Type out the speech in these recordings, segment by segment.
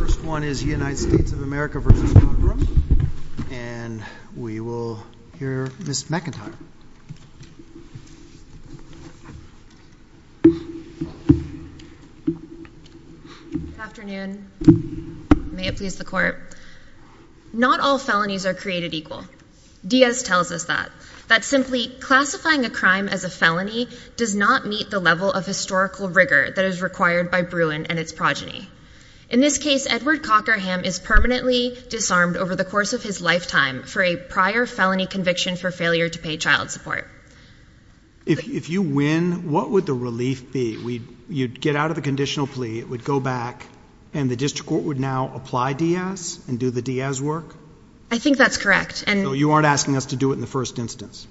The first one is United States of America v. Cockerham, and we will hear Ms. McIntyre. Good afternoon. May it please the Court. Not all felonies are created equal. Diaz tells us that. That simply classifying a crime as a felony does not meet the level of historical progeny. In this case, Edward Cockerham is permanently disarmed over the course of his lifetime for a prior felony conviction for failure to pay child support. If you win, what would the relief be? You'd get out of the conditional plea, it would go back, and the District Court would now apply Diaz and do the Diaz work? I think that's correct. You aren't asking us to do it in the first instance.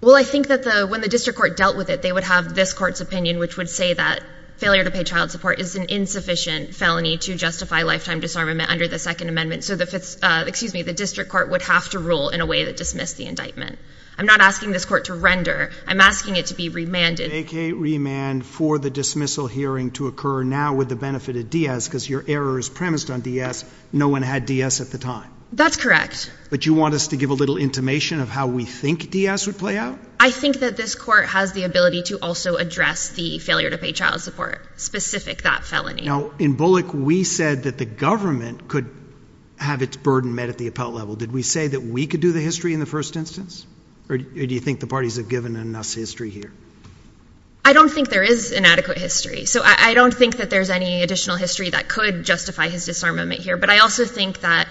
Well, I think that when the District Court dealt with it, they would have this Court's opinion, which would say that failure to pay child support is an insufficient felony to justify lifetime disarmament under the Second Amendment, so the District Court would have to rule in a way that dismissed the indictment. I'm not asking this Court to render. I'm asking it to be remanded. Make a remand for the dismissal hearing to occur now with the benefit of Diaz because your error is premised on Diaz. No one had Diaz at the time. That's correct. But you want us to give a little intimation of how we think Diaz would play out? I think that this Court has the ability to also address the failure to pay child support, specific that felony. Now, in Bullock, we said that the government could have its burden met at the appellate level. Did we say that we could do the history in the first instance? Or do you think the parties have given enough history here? I don't think there is inadequate history, so I don't think that there's any additional history that could justify his disarmament here, but I also think that,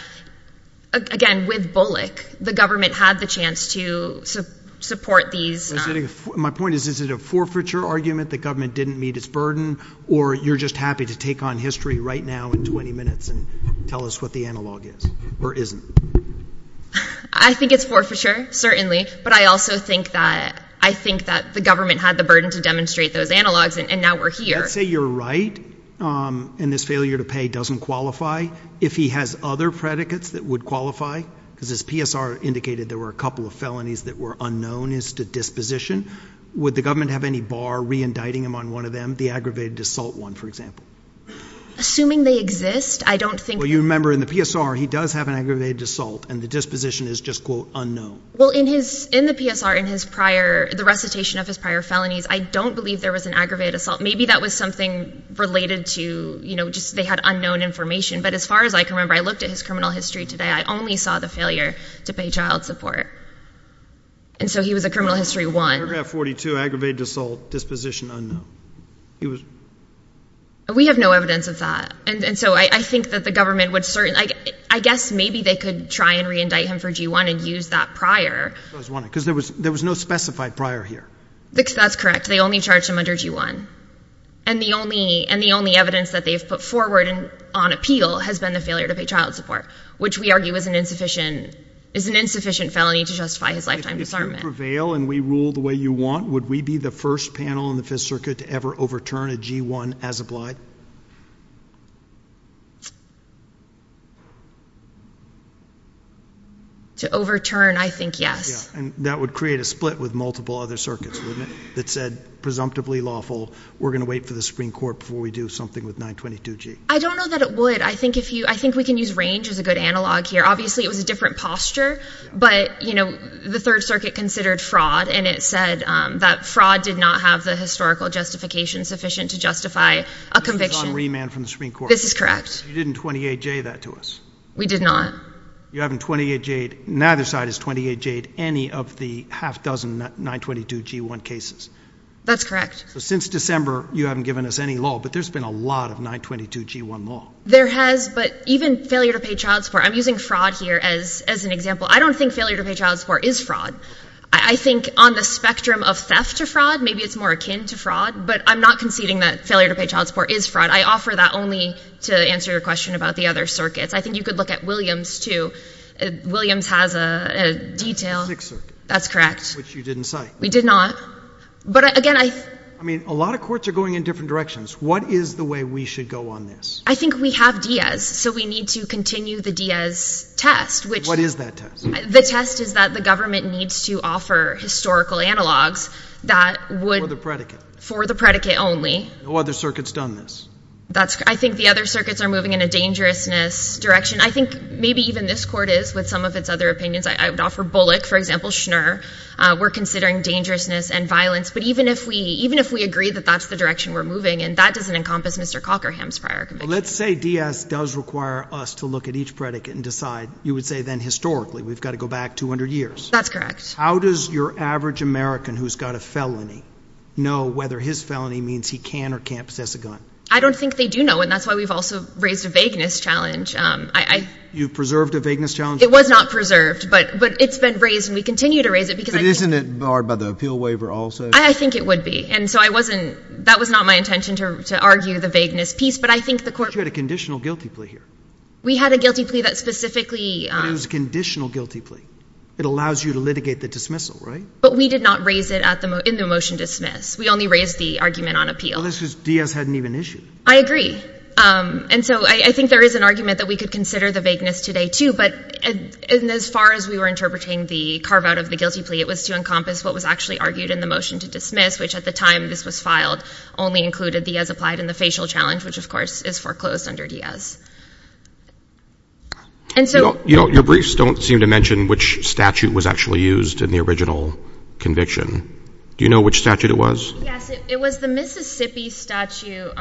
again, with Bullock, the government had the chance to support these My point is, is it a forfeiture argument that government didn't meet its burden, or you're just happy to take on history right now in 20 minutes and tell us what the analog is, or isn't? I think it's forfeiture, certainly, but I also think that I think that the government had the burden to demonstrate those analogs, and now we're here. Let's say you're right, and this failure to pay doesn't qualify. If he has other predicates that would qualify, because his PSR indicated there were a couple of felonies that were unknown as to disposition, would the government have any bar re-indicting him on one of them, the aggravated assault one, for example? Assuming they exist, I don't think... Well, you remember in the PSR, he does have an aggravated assault, and the disposition is just, quote, unknown. Well, in the PSR, in the recitation of his prior felonies, I don't believe there was an aggravated assault. Maybe that was something related to just they had unknown information, but as far as I can remember, I looked at his failure to pay child support, and so he was a criminal history one. Paragraph 42, aggravated assault, disposition unknown. He was... We have no evidence of that, and so I think that the government would certainly... I guess maybe they could try and re-indict him for G1 and use that prior. Because there was no specified prior here. That's correct. They only charged him under G1, and the only evidence that they've put forward on appeal has been the failure to pay child support, which we argue is an insufficient felony to justify his lifetime disarmament. If you prevail and we rule the way you want, would we be the first panel in the Fifth Circuit to ever overturn a G1 as applied? To overturn, I think, yes. Yeah, and that would create a split with multiple other circuits, wouldn't it? That said, presumptively lawful, we're going to wait for the Supreme Court before we do something with 922G. I don't know that it would. I think we can use range as a good analog here. Obviously, it was a different posture, but the Third Circuit considered fraud, and it said that fraud did not have the historical justification sufficient to justify a conviction. John Riemann from the Supreme Court. This is correct. You didn't 28J that to us. We did not. You haven't 28J'd, neither side has 28J'd any of the half dozen 922G1 cases. That's correct. So since December, you haven't given us any law, but there's been a lot of 922G1 law. There has, but even failure to pay child support, I'm using fraud here as an example. I don't think failure to pay child support is fraud. I think on the spectrum of theft to fraud, maybe it's more akin to fraud, but I'm not conceding that failure to pay child support is fraud. I offer that only to answer your question about the other circuits. I think you could look at Williams too. Williams has a detail. Sixth Circuit. That's correct. Which you didn't say. We did not. But again, I— I mean, a lot of courts are going in different directions. What is the way we should go on this? I think we have Diaz, so we need to continue the Diaz test, which— What is that test? The test is that the government needs to offer historical analogs that would— For the predicate. For the predicate only. No other circuits done this. I think the other circuits are moving in a dangerousness direction. I think maybe even this court is with some of its other opinions. I would offer Bullock, for example, Schnur. We're considering dangerousness and violence, but even if we— even if we agree that that's the direction we're moving in, that doesn't encompass Mr. Cockerham's prior conviction. Let's say Diaz does require us to look at each predicate and decide, you would say then historically, we've got to go back 200 years. That's correct. How does your average American who's got a felony know whether his felony means he can or can't possess a gun? I don't think they do know, and that's why we've also raised a vagueness challenge. You preserved a vagueness challenge? It was not preserved, but it's been raised, and we continue to raise it because— Isn't it barred by the appeal waiver also? I think it would be, and so I wasn't— that was not my intention to argue the vagueness piece, but I think the court— You had a conditional guilty plea here. We had a guilty plea that specifically— It was a conditional guilty plea. It allows you to litigate the dismissal, right? But we did not raise it in the motion dismiss. We only raised the argument on appeal. Well, that's because Diaz hadn't even issued. I agree. And so I think there is an argument that we could consider the vagueness today, but as far as we were interpreting the carve-out of the guilty plea, it was to encompass what was actually argued in the motion to dismiss, which at the time this was filed only included Diaz applied in the facial challenge, which of course is foreclosed under Diaz. And so— Your briefs don't seem to mention which statute was actually used in the original conviction. Do you know which statute it was? Yes, it was the Mississippi statute.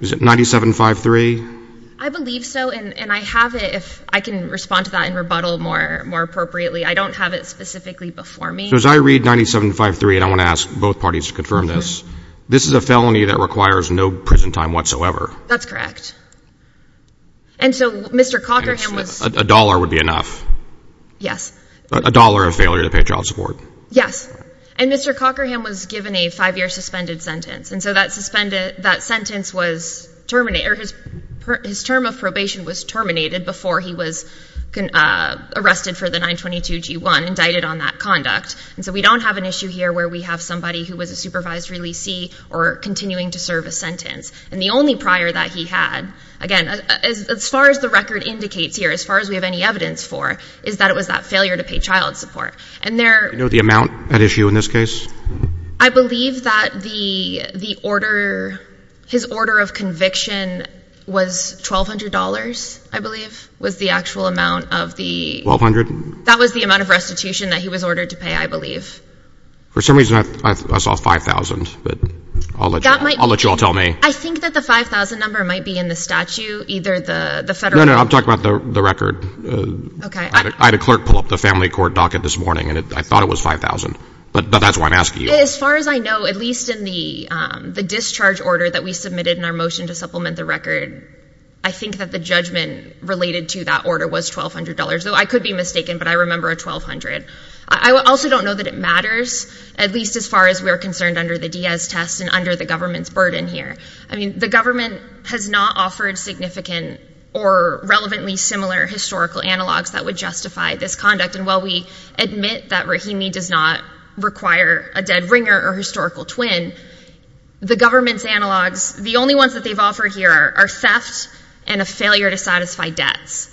Was it 97-53? I believe so, and I have it if I can respond to that and rebuttal more appropriately. I don't have it specifically before me. So as I read 97-53, and I want to ask both parties to confirm this, this is a felony that requires no prison time whatsoever. That's correct. And so Mr. Cockerham was— A dollar would be enough. Yes. A dollar of failure to pay child support. Yes. And Mr. Cockerham was given a five-year suspended sentence, and so that sentence was terminated— or his term of probation was terminated before he was arrested for the 922-G1, indicted on that conduct. And so we don't have an issue here where we have somebody who was a supervised releasee or continuing to serve a sentence. And the only prior that he had, again, as far as the record indicates here, as far as we have any evidence for, is that it was that failure to pay child support. And there— Do you know the amount at issue in this case? I believe that the order—his order of conviction was $1,200, I believe, was the actual amount of the— $1,200? That was the amount of restitution that he was ordered to pay, I believe. For some reason, I saw $5,000, but I'll let you all tell me. I think that the $5,000 number might be in the statute, either the federal— No, no, I'm talking about the record. Okay. I had a clerk pull up the family court docket this morning, and I thought it was $5,000. But that's why I'm asking you. As far as I know, at least in the discharge order that we submitted in our motion to supplement the record, I think that the judgment related to that order was $1,200, though I could be mistaken, but I remember a $1,200. I also don't know that it matters, at least as far as we're concerned under the Diaz test and under the government's burden here. I mean, the government has not offered significant or relevantly similar historical analogs that would justify this conduct. While we admit that Rahimi does not require a dead ringer or historical twin, the government's analogs, the only ones that they've offered here are theft and a failure to satisfy debts.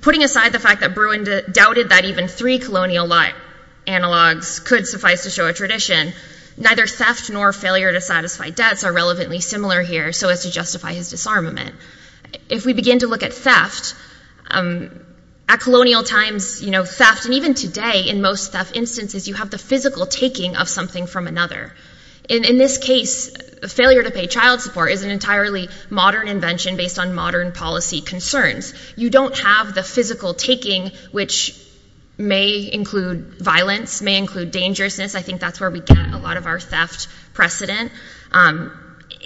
Putting aside the fact that Bruin doubted that even three colonial analogs could suffice to show a tradition, neither theft nor failure to satisfy debts are relevantly similar here so as to justify his disarmament. If we begin to look at theft, at colonial times theft, and even today in most theft instances, you have the physical taking of something from another. In this case, failure to pay child support is an entirely modern invention based on modern policy concerns. You don't have the physical taking, which may include violence, may include dangerousness. I think that's where we get a lot of our theft precedent.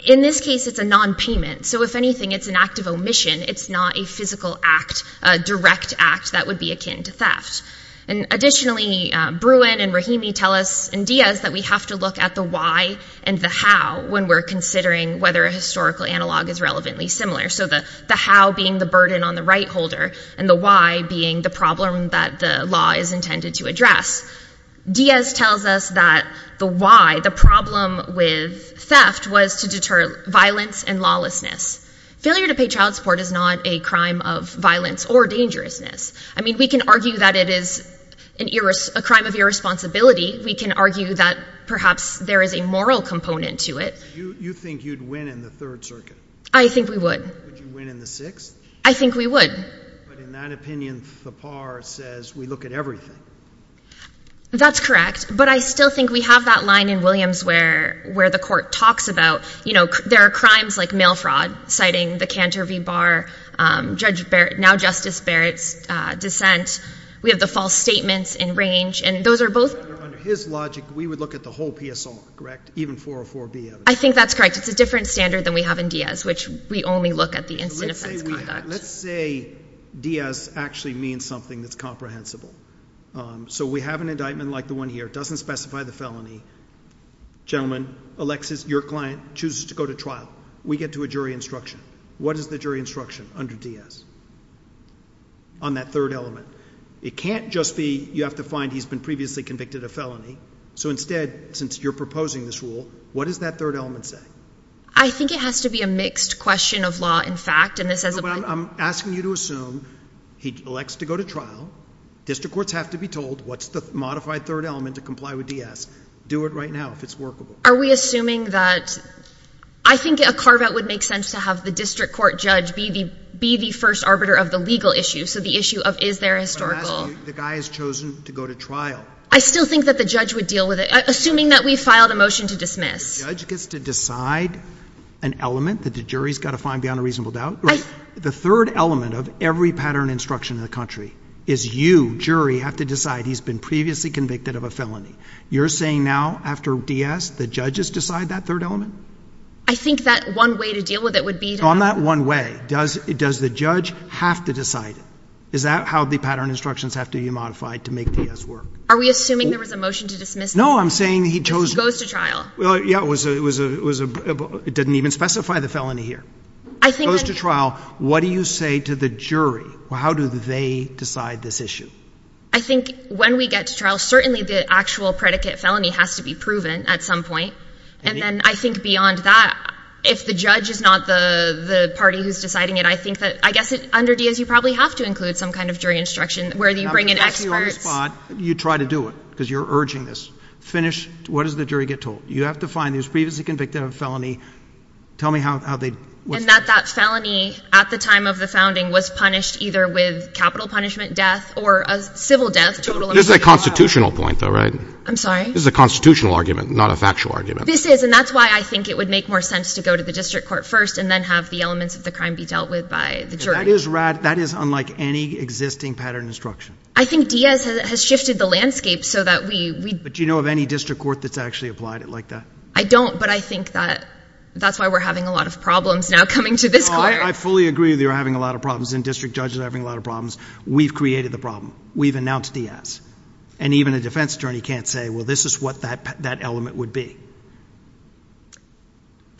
In this case, it's a non-payment. If anything, it's an act of omission. It's not a physical act, a direct act that would be akin to theft. Additionally, Bruin and Rahimi tell us and Diaz that we have to look at the why and the how when we're considering whether a historical analog is relevantly similar. So the how being the burden on the right holder and the why being the problem that the law is intended to address. Diaz tells us that the why, the problem with theft was to deter violence and lawlessness. Failure to pay child support is not a crime of violence or dangerousness. I mean, we can argue that it is a crime of irresponsibility. We can argue that perhaps there is a moral component to it. You think you'd win in the Third Circuit? I think we would. Would you win in the Sixth? I think we would. But in that opinion, Thapar says we look at everything. That's correct. But I still think we have that line in Williams where the court talks about, you know, there are crimes like mail fraud, citing the Cantor v. Barr, Judge Barrett, now Justice Barrett's dissent. We have the false statements in range. And those are both... Under his logic, we would look at the whole PSR, correct? Even 404B. I think that's correct. It's a different standard than we have in Diaz, which we only look at the instant offense conduct. Let's say Diaz actually means something that's comprehensible. So we have an indictment like the one here, it doesn't specify the felony. Gentlemen, your client chooses to go to trial. We get to a jury instruction. What is the jury instruction under Diaz on that third element? It can't just be you have to find he's been previously convicted of felony. So instead, since you're proposing this rule, what does that third element say? I think it has to be a mixed question of law and fact. No, but I'm asking you to assume he elects to go to trial. District courts have to be told what's the modified third element to comply with Diaz. Do it right now if it's workable. Are we assuming that... I think a carve-out would make sense to have the district court judge be the first arbiter of the legal issue. So the issue of is there a historical... The guy has chosen to go to trial. I still think that the judge would deal with it. Assuming that we filed a motion to dismiss. The judge gets to decide an element that the jury's got to find beyond a reasonable doubt. The third element of every pattern instruction in the country is you, jury, have to decide he's been previously convicted of a felony. You're saying now after Diaz, the judges decide that third element? I think that one way to deal with it would be... On that one way, does the judge have to decide it? Is that how the pattern instructions have to be modified to make Diaz work? Are we assuming there was a motion to dismiss? No, I'm saying he chose... Goes to trial. Well, yeah, it was a... It didn't even specify the felony here. I think... Goes to trial. What do you say to the jury? How do they decide this issue? I think when we get to trial, certainly the actual predicate felony has to be proven at some point. And then I think beyond that, if the judge is not the party who's deciding it, I think that... I guess under Diaz, you probably have to include some kind of jury instruction where you bring in experts. You try to do it because you're urging this. Finish. What does the jury get told? You have to find he was previously convicted of a felony. Tell me how they... And that that felony, at the time of the founding, was punished either with capital punishment death or a civil death, total... This is a constitutional point though, right? I'm sorry? This is a constitutional argument, not a factual argument. This is, and that's why I think it would make more sense to go to the district court first and then have the elements of the crime be dealt with by the jury. That is unlike any existing pattern instruction. I think Diaz has shifted the landscape so that we... But do you know of any district court that's actually applied it like that? I don't, but I think that that's why we're having a lot of problems now coming to this court. I fully agree that you're having a lot of problems and district judges are having a lot of problems. We've created the problem. We've announced Diaz. And even a defense attorney can't say, well, this is what that element would be.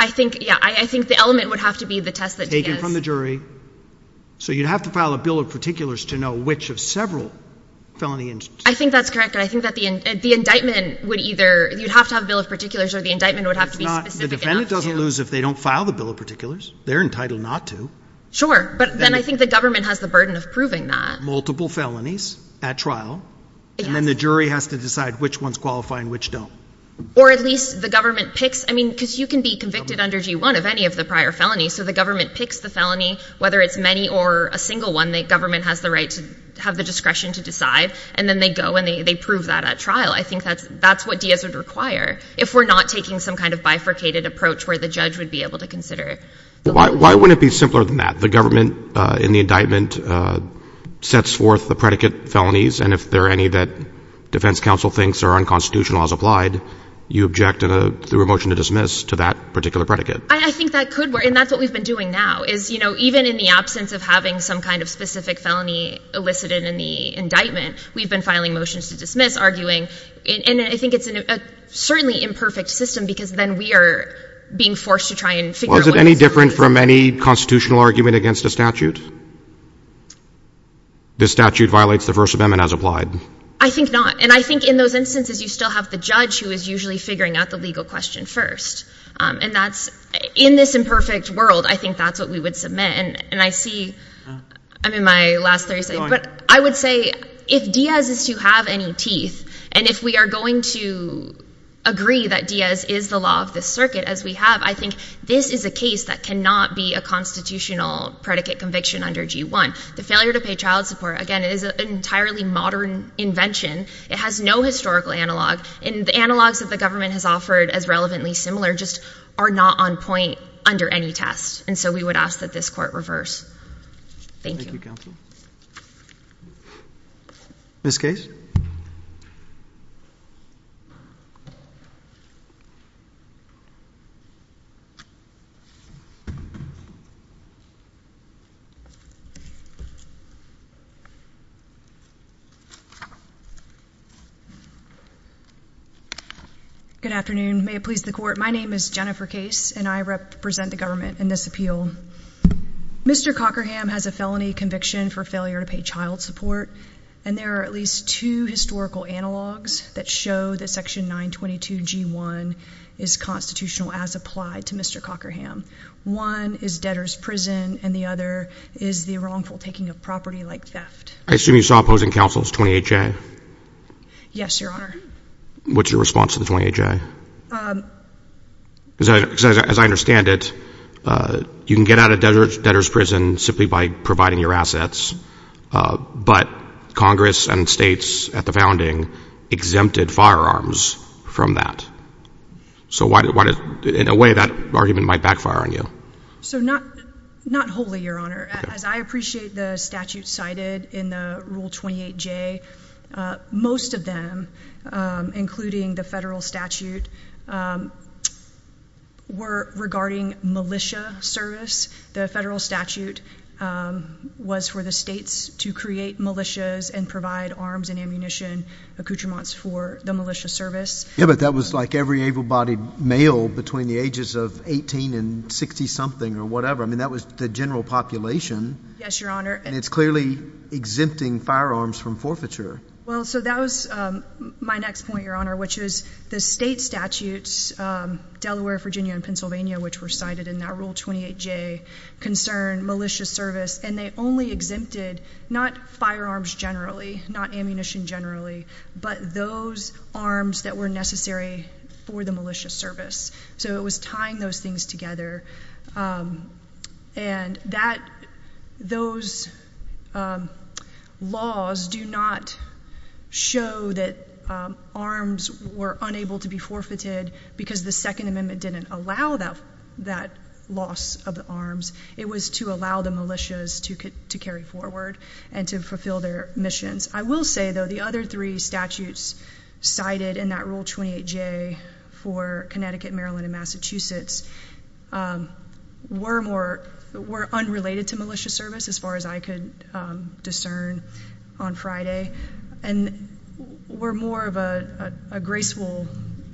I think, yeah, I think the element would have to be the test that Diaz... Taken from the jury. So you'd have to file a bill of particulars to know which of several felony incidents. I think that's correct. And I think that the indictment would either... You'd have to have a bill of particulars or the indictment would have to be specific enough to... The defendant doesn't lose if they don't file the bill of particulars. They're entitled not to. But then I think the government has the burden of proving that. Multiple felonies at trial. And then the jury has to decide which ones qualify and which don't. Or at least the government picks... I mean, because you can be convicted under G1 of any of the prior felonies. So the government picks the felony, whether it's many or a single one, the government has the right to have the discretion to decide. And then they go and they prove that at trial. I think that's what Diaz would require if we're not taking some kind of bifurcated approach where the judge would be able to consider it. Why wouldn't it be simpler than that? The government in the indictment sets forth the predicate felonies. And if there are any that defense counsel thinks are unconstitutional as applied, you object to a motion to dismiss to that particular predicate. I think that could work. And that's what we've been doing now. Is, you know, even in the absence of having some kind of specific felony elicited in the indictment, we've been filing motions to dismiss, arguing. And I think it's a certainly imperfect system because then we are being forced to try and figure out... Is it different from any constitutional argument against a statute? The statute violates the first amendment as applied. I think not. And I think in those instances, you still have the judge who is usually figuring out the legal question first. And that's in this imperfect world. I think that's what we would submit. And I see I'm in my last 30 seconds. But I would say if Diaz is to have any teeth, and if we are going to agree that Diaz is the law of the circuit as we have, I think this is a case that cannot be a constitutional predicate conviction under G1. The failure to pay child support, again, is an entirely modern invention. It has no historical analog. And the analogs that the government has offered as relevantly similar just are not on point under any test. And so we would ask that this court reverse. Thank you. Ms. Case? Good afternoon. May it please the court. My name is Jennifer Case. And I represent the government in this appeal. Mr. Cockerham has a felony conviction for failure to pay child support. And there are at least two historical analogs that show that section 922 G1 is constitutional as applied to Mr. Cockerham. One is debtor's prison. And the other is the wrongful taking of property like theft. I assume you saw opposing counsels, 28J? Yes, Your Honor. What's your response to the 28J? As I understand it, you can get out of debtor's prison simply by providing your assets. But Congress and states at the founding exempted firearms from that. So in a way, that argument might backfire on you. So not wholly, Your Honor. As I appreciate the statute cited in the Rule 28J, most of them, including the federal statute, were regarding militia service. The federal statute was for the states to create militias and provide arms and ammunition accoutrements for the militia service. Yeah, but that was like every able-bodied male between the ages of 18 and 60-something or whatever. I mean, that was the general population. Yes, Your Honor. And it's clearly exempting firearms from forfeiture. Well, so that was my next point, Your Honor, which is the state statutes, Delaware, Virginia, and Pennsylvania, which were cited in that Rule 28J, concern militia service. And they only exempted not firearms generally, not ammunition generally, but those arms that were necessary for the militia service. So it was tying those things together. And those laws do not show that arms were unable to be forfeited because the Second Amendment didn't allow that loss of the arms. It was to allow the militias to carry forward and to fulfill their missions. I will say, though, the other three statutes cited in that Rule 28J for Connecticut, Maryland, and Massachusetts were unrelated to militia service as far as I could discern on Friday and were more of a graceful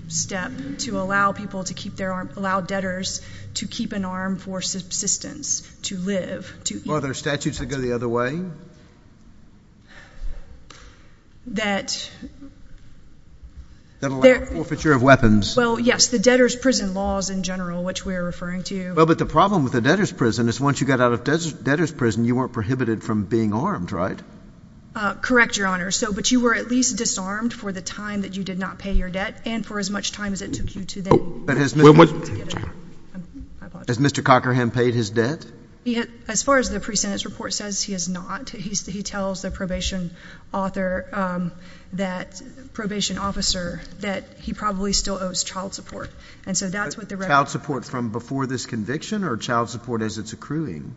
step to allow people to keep their arm, allow debtors to keep an arm for subsistence, to live, to eat. Were there statutes that go the other way? That... That allow forfeiture of weapons? Well, yes. The debtor's prison laws in general, which we're referring to. Well, but the problem with the debtor's prison is once you got out of debtor's prison, you weren't prohibited from being armed, right? Correct, Your Honor. So, but you were at least disarmed for the time that you did not pay your debt and for as much time as it took you to then... Has Mr. Cockerham paid his debt? As far as the pre-sentence report says, he has not. He tells the probation officer that he probably still owes child support. And so that's what the record... Child support from before this conviction or child support as it's accruing?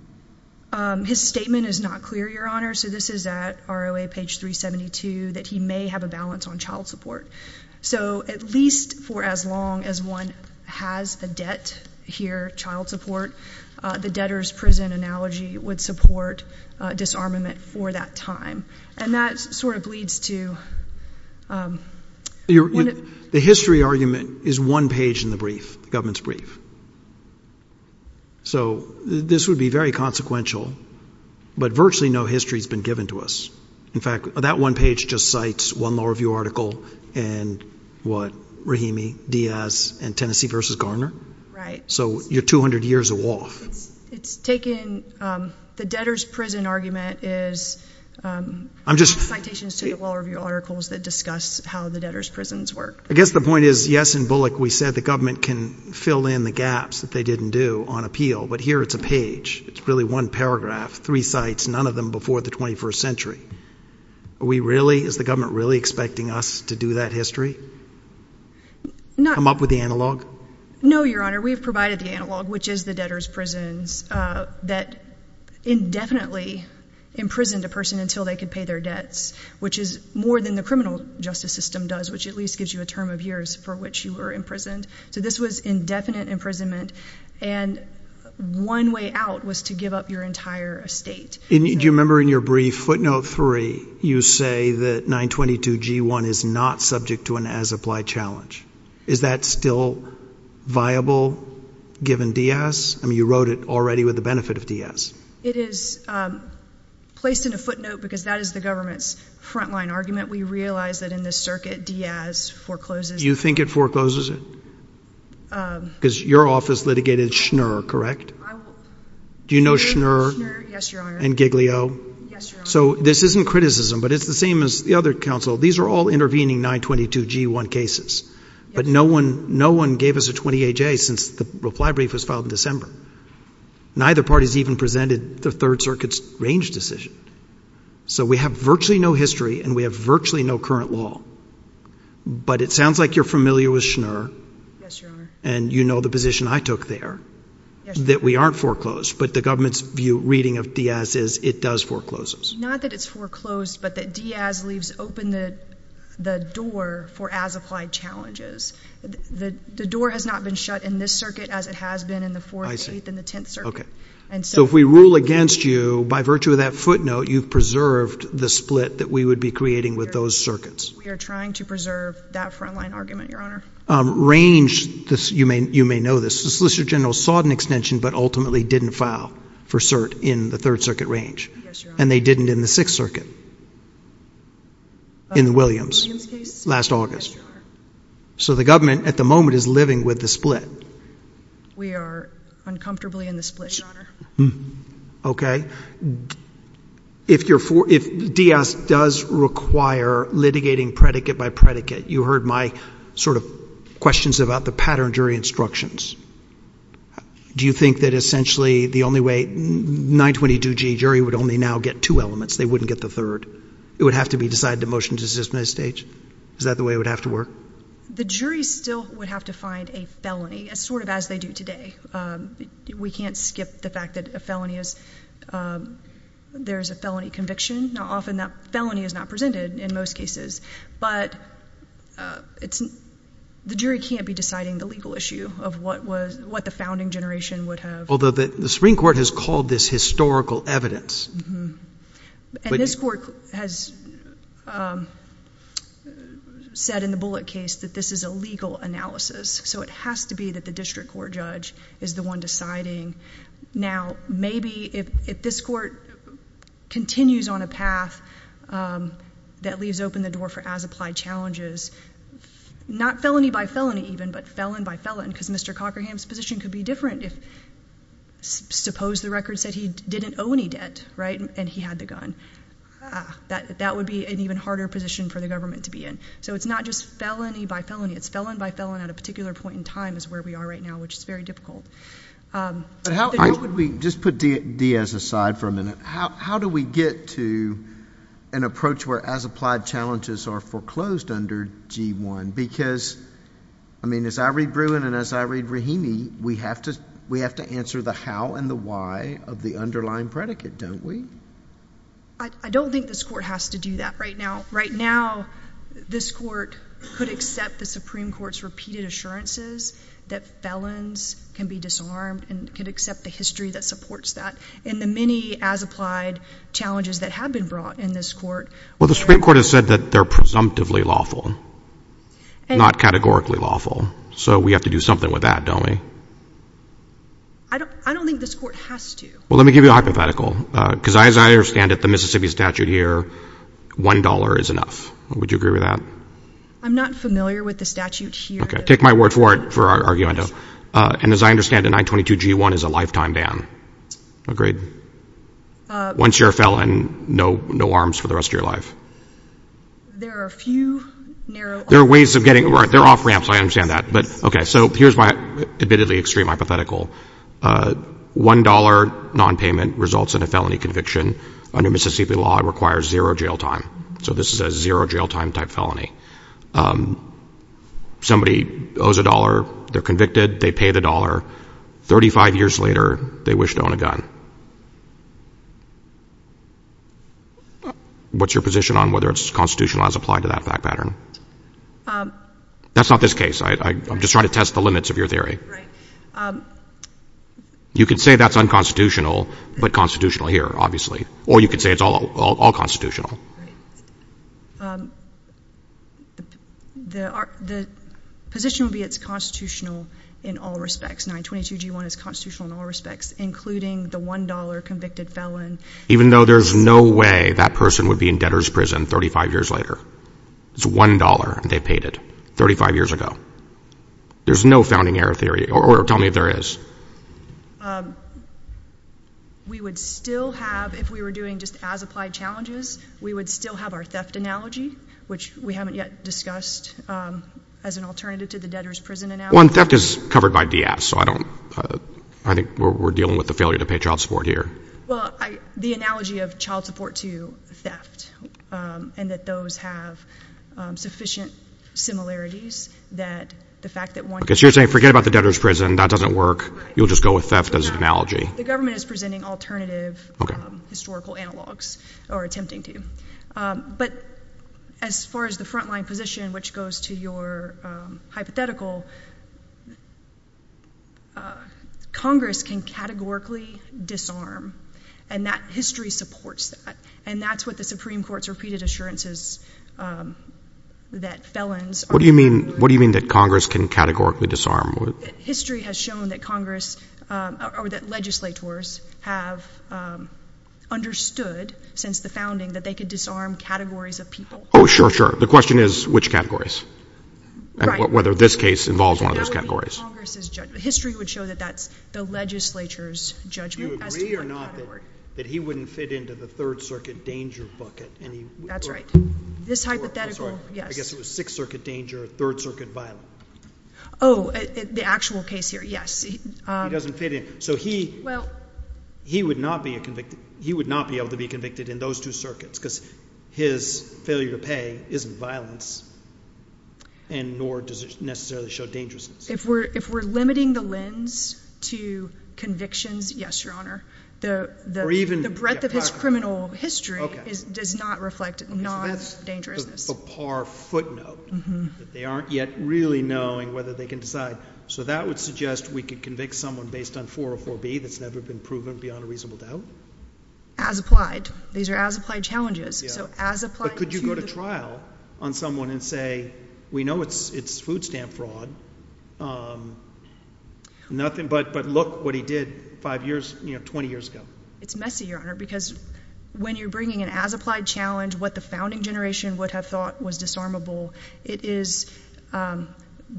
His statement is not clear, Your Honor. So this is at ROA page 372, that he may have a balance on child support. So at least for as long as one has the debt here, child support, the debtor's prison analogy would support disarmament for that time. And that sort of leads to... The history argument is one page in the brief, the government's brief. So this would be very consequential, but virtually no history has been given to us. In fact, that one page just cites one law review article and what, Rahimi, Diaz, and Tennessee versus Garner. Right. So you're 200 years off. It's taken... The debtor's prison argument is... I'm just... Citations to the law review articles that discuss how the debtor's prisons work. I guess the point is, yes, in Bullock, we said the government can fill in the gaps that they didn't do on appeal, but here it's a page. It's really one paragraph, three sites, none of them before the 21st century. Is the government really expecting us to do that history? Come up with the analog? No, Your Honor, we've provided the analog, which is the debtor's prisons that indefinitely imprisoned a person until they could pay their debts, which is more than the criminal justice system does, which at least gives you a term of years for which you were imprisoned. So this was indefinite imprisonment and one way out was to give up your entire estate. Do you remember in your brief footnote three, you say that 922 G1 is not subject to an as-applied challenge. Is that still viable given Diaz? I mean, you wrote it already with the benefit of Diaz. It is placed in a footnote because that is the government's frontline argument. We realize that in this circuit, Diaz forecloses... You think it forecloses it? Because your office litigated Schnur, correct? Do you know Schnur? Yes, Your Honor. And Giglio? Yes, Your Honor. So this isn't criticism, but it's the same as the other counsel. These are all intervening 922 G1 cases, but no one gave us a 20-H-A since the reply brief was filed in December. Neither party has even presented the Third Circuit's range decision. So we have virtually no history and we have virtually no current law, but it sounds like you're familiar with Schnur... Yes, Your Honor. ...and you know the position I took there that we aren't foreclosed, but the government's view, reading of Diaz is it does forecloses. Not that it's foreclosed, but that Diaz leaves open the door for as-applied challenges. The door has not been shut in this circuit as it has been in the Fourth, Eighth, and the Tenth Circuit. I see. Okay. And so... So if we rule against you, by virtue of that footnote, you've preserved the split that we would be creating with those circuits. We are trying to preserve that frontline argument, Your Honor. Range, you may know this, the Solicitor General sought an extension, but ultimately didn't file for cert in the Third Circuit range. Yes, Your Honor. And they didn't in the Sixth Circuit, in the Williams, last August. So the government, at the moment, is living with the split. We are uncomfortably in the split, Your Honor. Okay. If Diaz does require litigating predicate by predicate, you heard my sort of questions about the pattern jury instructions. Do you think that, essentially, the only way 922G jury would only now get two elements, they wouldn't get the third? It would have to be decided to motion to dismiss at this stage? Is that the way it would have to work? The jury still would have to find a felony, sort of as they do today. We can't skip the fact that a felony is, there's a felony conviction. Now, often that felony is not presented in most cases, but the jury can't be deciding the legal issue of what the founding generation would have. Although the Supreme Court has called this historical evidence. And this court has said in the Bullitt case that this is a legal analysis, so it has to be that the district court judge is the one deciding. Now, maybe if this court continues on a path that leaves open the door for as-applied challenges, not felony by felony even, but felon by felon, because Mr. Cockerham's position could be different if, suppose the record said he didn't owe any debt, right, and he had the gun. That would be an even harder position for the government to be in. So it's not just felony by felony. It's felon by felon at a particular point in time is where we are right now, which is very difficult. But how would we, just put Diaz aside for a minute. How do we get to an approach where as-applied challenges are foreclosed under G1? Because, I mean, as I read Bruin and as I read Rahimi, we have to answer the how and the why of the underlying predicate, don't we? I don't think this court has to do that right now. Right now, this court could accept the Supreme Court's repeated assurances that felons can be disarmed and could accept the history that supports that. And the many as-applied challenges that have been brought in this court. Well, the Supreme Court has said that they're presumptively lawful, not categorically lawful. So we have to do something with that, don't we? I don't think this court has to. Well, let me give you a hypothetical. Because as I understand it, the Mississippi statute here, $1 is enough. Would you agree with that? I'm not familiar with the statute here. Take my word for it for arguing it. And as I understand it, 922 G1 is a lifetime ban. Agreed. Once you're a felon, no arms for the rest of your life. There are a few narrow... There are ways of getting... They're off ramps, I understand that. But, okay, so here's my admittedly extreme hypothetical. $1 nonpayment results in a felony conviction. Under Mississippi law, it requires zero jail time. So this is a zero jail time type felony. Somebody owes $1, they're convicted, they pay the $1. 35 years later, they wish to own a gun. What's your position on whether it's constitutional as applied to that pattern? That's not this case. I'm just trying to test the limits of your theory. Right. You could say that's unconstitutional, but constitutional here, obviously. Or you could say it's all constitutional. Right. The position would be it's constitutional in all respects. 922 G1 is constitutional in all respects, including the $1 convicted felon. Even though there's no way that person would be in debtor's prison 35 years later. It's $1 and they paid it 35 years ago. There's no founding error theory, or tell me if there is. We would still have, if we were doing just as applied challenges, we would still have our theft analogy, which we haven't yet discussed as an alternative to the debtor's prison analogy. One, theft is covered by DS, so I don't, I think we're dealing with the failure to pay child support here. Well, the analogy of child support to theft, and that those have sufficient similarities that the fact that one- Because you're saying forget about the debtor's prison, that doesn't work. You'll just go with theft as an analogy. The government is presenting alternative historical analogs, or attempting to. But as far as the frontline position, which goes to your hypothetical, Congress can categorically disarm, and that history supports that. And that's what the Supreme Court's repeated assurances that felons- What do you mean that Congress can categorically disarm? History has shown that Congress, or that legislators have understood since the founding that they could disarm categories of people. Oh, sure, sure. The question is which categories, whether this case involves one of those categories. History would show that that's the legislature's judgment. Do you agree or not that he wouldn't fit into the Third Circuit danger bucket? That's right. This hypothetical, yes. I guess it was Sixth Circuit danger, Third Circuit violence. Oh, the actual case here, yes. He doesn't fit in. So he would not be able to be convicted in those two circuits, because his failure to pay isn't violence, and nor does it necessarily show dangerousness. If we're limiting the lens to convictions, yes, Your Honor. The breadth of his criminal history does not reflect non-dangerousness. That's a par footnote. They aren't yet really knowing whether they can decide. So that would suggest we could convict someone based on 404B that's never been proven beyond a reasonable doubt? As applied. These are as applied challenges. So as applied to the- But could you go to trial on someone and say, we know it's food stamp fraud, but look what he did five years, 20 years ago. It's messy, Your Honor, because when you're bringing an as applied challenge, what the founding generation would have thought was disarmable, it is the fullness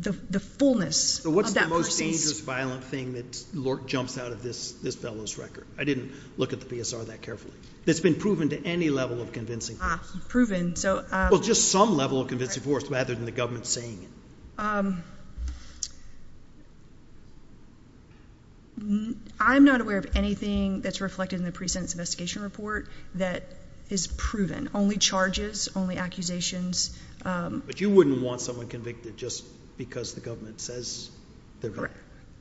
of that person's- So what's the most dangerous violent thing that jumps out of this fellow's record? I didn't look at the PSR that carefully. That's been proven to any level of convincing force. Proven, so- Well, just some level of convincing force rather than the government saying it. I'm not aware of anything that's reflected in the pre-sentence investigation report that is proven. Only charges, only accusations. But you wouldn't want someone convicted just because the government says-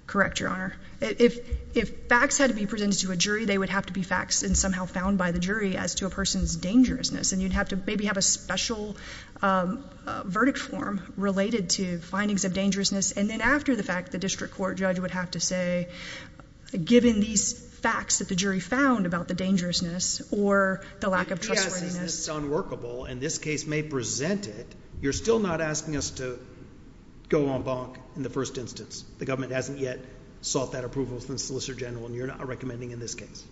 Correct, Your Honor. If facts had to be presented to a jury, they would have to be facts and somehow found by the jury as to a person's dangerousness. And you'd have to maybe have a special verdict form related to findings of dangerousness. And then after the fact, the district court judge would have to say, given these facts that the jury found about the dangerousness or the lack of trustworthiness- Yes, it's unworkable and this case may present it. You're still not asking us to go en banc in the first instance. The government hasn't yet sought that approval from the Solicitor General and you're not recommending in this case.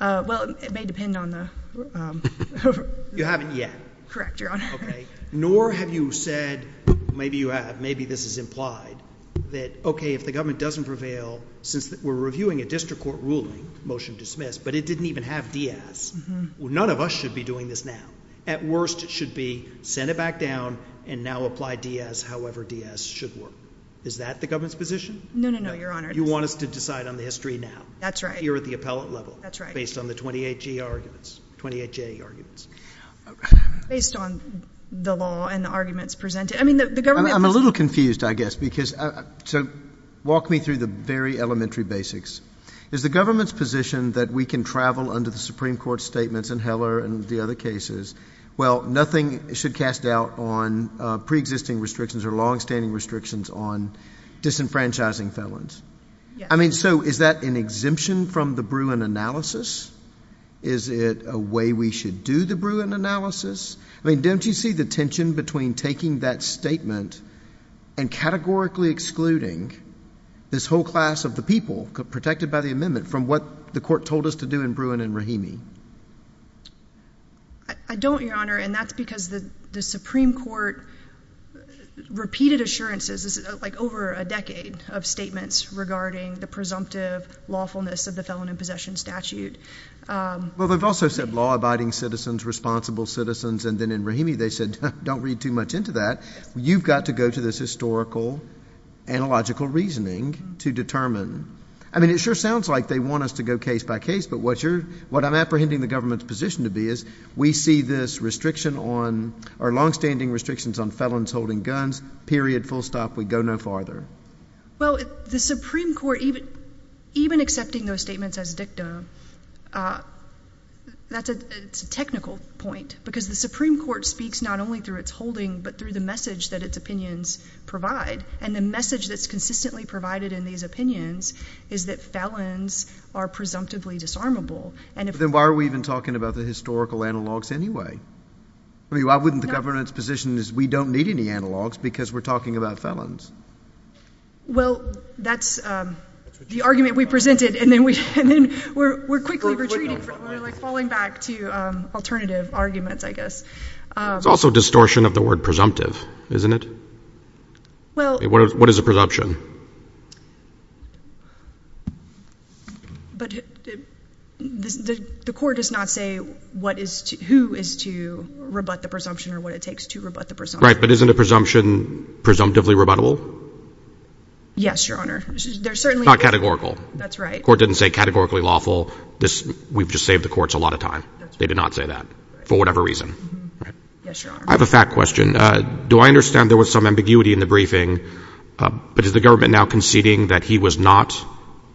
Well, it may depend on the- You haven't yet. Correct, Your Honor. Okay. Nor have you said, maybe you have, maybe this is implied, that okay, if the government doesn't prevail since we're reviewing a district court ruling, motion dismissed, but it didn't even have Diaz, none of us should be doing this now. At worst, it should be, send it back down and now apply Diaz however Diaz should work. Is that the government's position? No, no, no, Your Honor. You want us to decide on the history now? That's right. Here at the appellate level? That's right. Based on the 28G arguments, 28J arguments? Based on the law and the arguments presented. I mean, the government- I'm a little confused, I guess, so walk me through the very elementary basics. Is the government's position that we can travel under the Supreme Court statements in Heller and the other cases, well, nothing should cast doubt on pre-existing restrictions or long-standing restrictions on disenfranchising felons? I mean, so is that an exemption from the Bruin analysis? Is it a way we should do the Bruin analysis? I mean, don't you see the tension between taking that statement and categorically excluding this whole class of the people protected by the amendment from what the court told us to do in Bruin and Rahimi? I don't, Your Honor, and that's because the Supreme Court repeated assurances, like over a decade of statements regarding the presumptive lawfulness of the felon in possession statute. Well, they've also said law-abiding citizens, responsible citizens, and then in Rahimi they said, don't read too much into that. You've got to go to this historical, analogical reasoning to determine. I mean, it sure sounds like they want us to go case by case, but what I'm apprehending the government's position to be is we see this restriction on, or long-standing restrictions on felons holding guns, period, full stop, we go no farther. Well, the Supreme Court, even accepting those statements as dictum, that's a technical point, because the Supreme Court speaks not only through its holding, but through the message that its opinions provide. And the message that's consistently provided in these opinions is that felons are presumptively disarmable. But then why are we even talking about the historical analogs anyway? I mean, why wouldn't the government's position is we don't need any analogs because we're talking about felons? Well, that's the argument we presented, and then we're quickly retreating, falling back to alternative arguments, I guess. It's also distortion of the word presumptive, isn't it? What is a presumption? But the court does not say who is to rebut the presumption or what it takes to rebut the presumption. Right, but isn't a presumption presumptively rebuttable? Yes, Your Honor. Not categorical. That's right. Court didn't say categorically lawful. We've just saved the courts a lot of time. They did not say that, for whatever reason. I have a fact question. Do I understand there was some ambiguity in the briefing, but is the government now conceding that he was not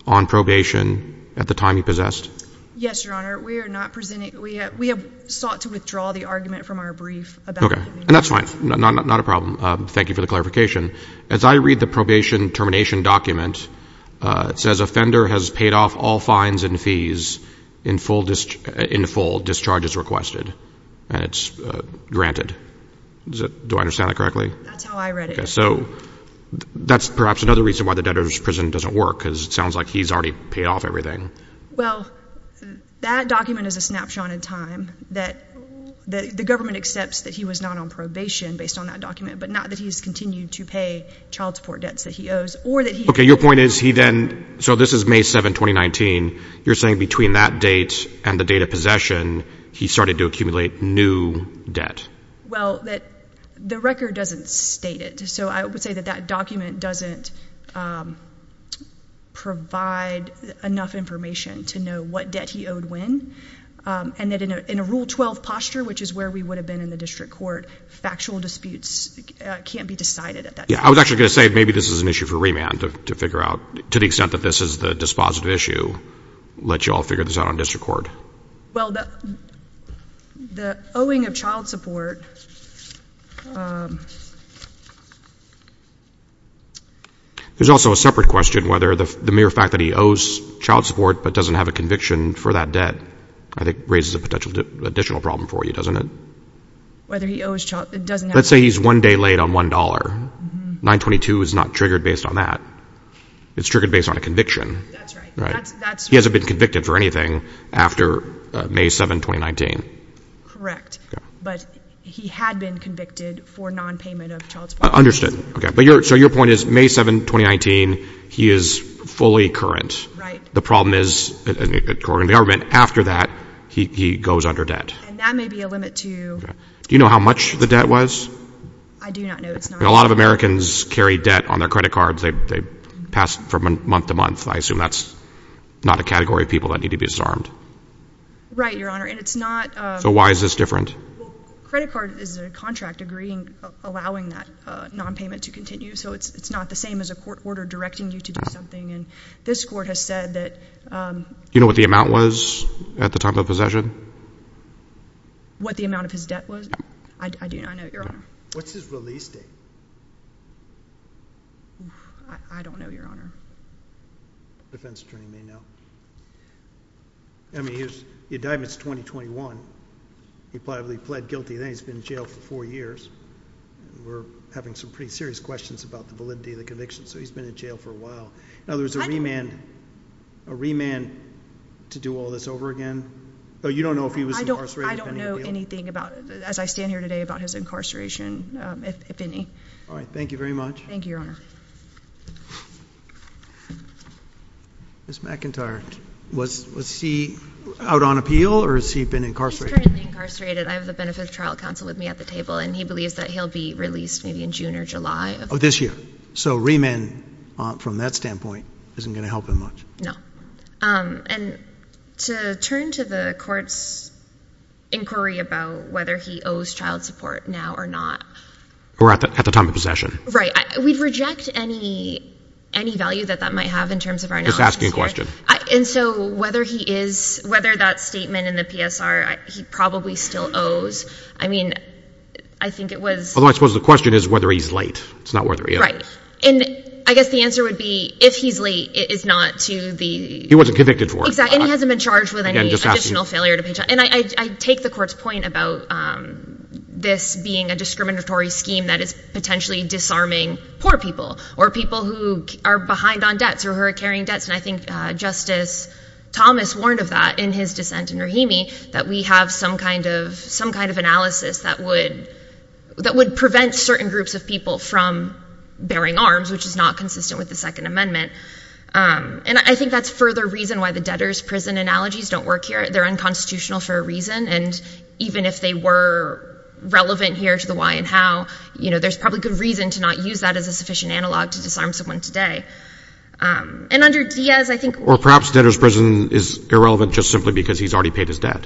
on probation at the time he possessed? Yes, Your Honor. We have sought to withdraw the argument from our brief. Okay, and that's fine. Not a problem. Thank you for the clarification. As I read the probation termination document, it says offender has paid off all fines and fees in full discharges requested. And it's granted. Do I understand that correctly? That's how I read it. So that's perhaps another reason why the debtor's prison doesn't work, because it sounds like he's already paid off everything. Well, that document is a snapshot in time that the government accepts that he was not on probation based on that document, but not that he's continued to pay child support debts that he owes or that he— Okay, your point is he then—so this is May 7, 2019. You're saying between that date and the date of possession, he started to accumulate new debt? Well, the record doesn't state it. So I would say that that document doesn't provide enough information to know what debt he owed when. And that in a Rule 12 posture, which is where we would have been in the district court, factual disputes can't be decided at that time. I was actually going to say maybe this is an issue for remand to figure out, to the extent that this is the dispositive issue, let you all figure this out on district court. Well, the owing of child support— There's also a separate question, whether the mere fact that he owes child support but doesn't have a conviction for that debt, I think, raises a potential additional problem for you, doesn't it? Whether he owes child—it doesn't have— Let's say he's one day late on $1. 922 is not triggered based on that. It's triggered based on a conviction. That's right. He hasn't been convicted for anything after May 7, 2019. Correct. But he had been convicted for nonpayment of child support. Understood. So your point is May 7, 2019, he is fully current. The problem is, according to the argument, after that, he goes under debt. And that may be a limit to— Do you know how much the debt was? I do not know. It's not— A lot of Americans carry debt on their credit cards. They pass from month to month. I assume that's not a category of people that need to be disarmed. Right, Your Honor. And it's not— So why is this different? Credit card is a contract agreeing—allowing that nonpayment to continue. So it's not the same as a court order directing you to do something. And this court has said that— Do you know what the amount was at the time of possession? What the amount of his debt was? I do not know, Your Honor. What's his release date? I don't know, Your Honor. Defense attorney may know. I mean, he was—the indictment's 2021. He probably pled guilty, and he's been in jail for four years. We're having some pretty serious questions about the validity of the conviction. So he's been in jail for a while. In other words, a remand— I don't— A remand to do all this over again? You don't know if he was incarcerated? I don't know anything about—as I stand here today, about his incarceration, if any. All right. Thank you very much. Thank you, Your Honor. Ms. McIntyre, was he out on appeal, or has he been incarcerated? He's currently incarcerated. I have the Benefit of Trial Council with me at the table, and he believes that he'll be released maybe in June or July of— Oh, this year. So remand, from that standpoint, isn't going to help him much. No. And to turn to the court's inquiry about whether he owes child support now or not— Or at the time of possession. Right. We'd reject any value that that might have in terms of our knowledge. Just asking a question. And so whether he is—whether that statement in the PSR, he probably still owes. I mean, I think it was— Although I suppose the question is whether he's late. It's not whether he owes. Right. And I guess the answer would be, if he's late, it is not to the— He wasn't convicted for it. Exactly. And he hasn't been charged with any additional failure to pay child— And I take the court's point about this being a discriminatory scheme that is potentially disarming poor people or people who are behind on debts or who are carrying debts. And I think Justice Thomas warned of that in his dissent in Rahimi, that we have some kind of analysis that would prevent certain groups of people from bearing arms, which is not consistent with the Second Amendment. And I think that's further reason why the debtor's prison analogies don't work here. They're unconstitutional for a reason. And even if they were relevant here to the why and how, you know, there's probably good reason to not use that as a sufficient analog to disarm someone today. And under Diaz, I think— Or perhaps debtor's prison is irrelevant just simply because he's already paid his debt.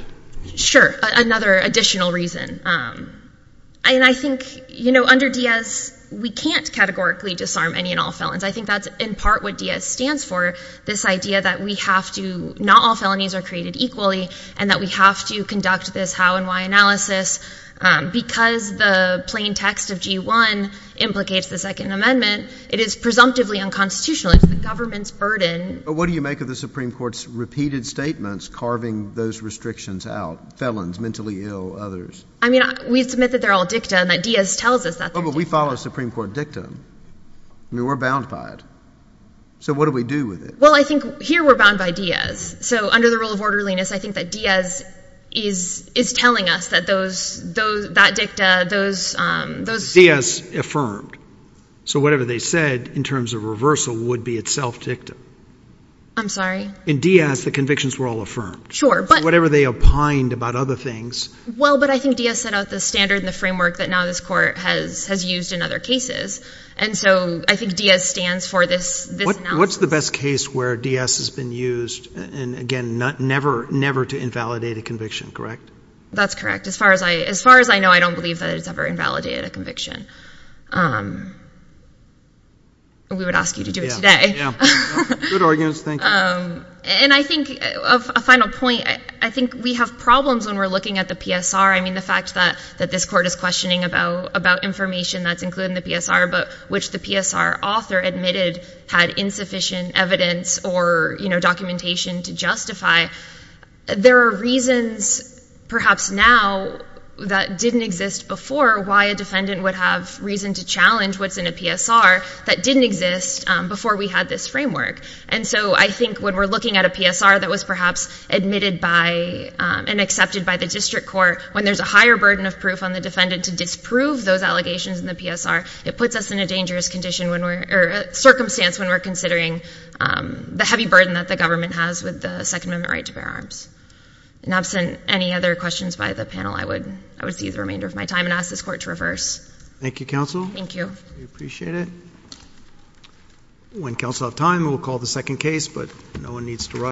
Sure. Another additional reason. And I think, you know, under Diaz, we can't categorically disarm any and all felons. I think that's in part what Diaz stands for, this idea that we have to— not all felonies are created equally and that we have to conduct this how and why analysis. Because the plain text of G-1 implicates the Second Amendment, it is presumptively unconstitutional. It's the government's burden. But what do you make of the Supreme Court's repeated statements carving those restrictions out—felons, mentally ill, others? I mean, we submit that they're all dicta and that Diaz tells us that they're dicta. But we follow Supreme Court dicta. I mean, we're bound by it. So what do we do with it? Well, I think here we're bound by Diaz. So under the rule of orderliness, I think that Diaz is telling us that those—that dicta, those— Diaz affirmed. So whatever they said in terms of reversal would be itself dicta. I'm sorry? In Diaz, the convictions were all affirmed. Sure, but— Whatever they opined about other things— Well, but I think Diaz set out the standard and the framework that now this Court has used in other cases. And so I think Diaz stands for this analysis. What's the best case where Diaz has been used? And again, never to invalidate a conviction, correct? That's correct. As far as I know, I don't believe that it's ever invalidated a conviction. We would ask you to do it today. Good arguments, thank you. And I think, a final point, I think we have problems when we're looking at the PSR. I mean, the fact that this Court is questioning about information that's included in the PSR, which the PSR author admitted had insufficient evidence or documentation to justify, there are reasons, perhaps now, that didn't exist before, why a defendant would have reason to challenge what's in a PSR that didn't exist before we had this framework. And so I think when we're looking at a PSR that was perhaps admitted by and accepted by the District Court, when there's a higher burden of proof on the defendant to disprove those allegations in the PSR, it puts us in a dangerous circumstance when we're considering the heavy burden that the government has with the Second Amendment right to bear arms. And absent any other questions by the panel, I would see the remainder of my time and ask this Court to reverse. Thank you, counsel. Thank you. We appreciate it. When counsel have time, we'll call the second case, but no one needs to rush.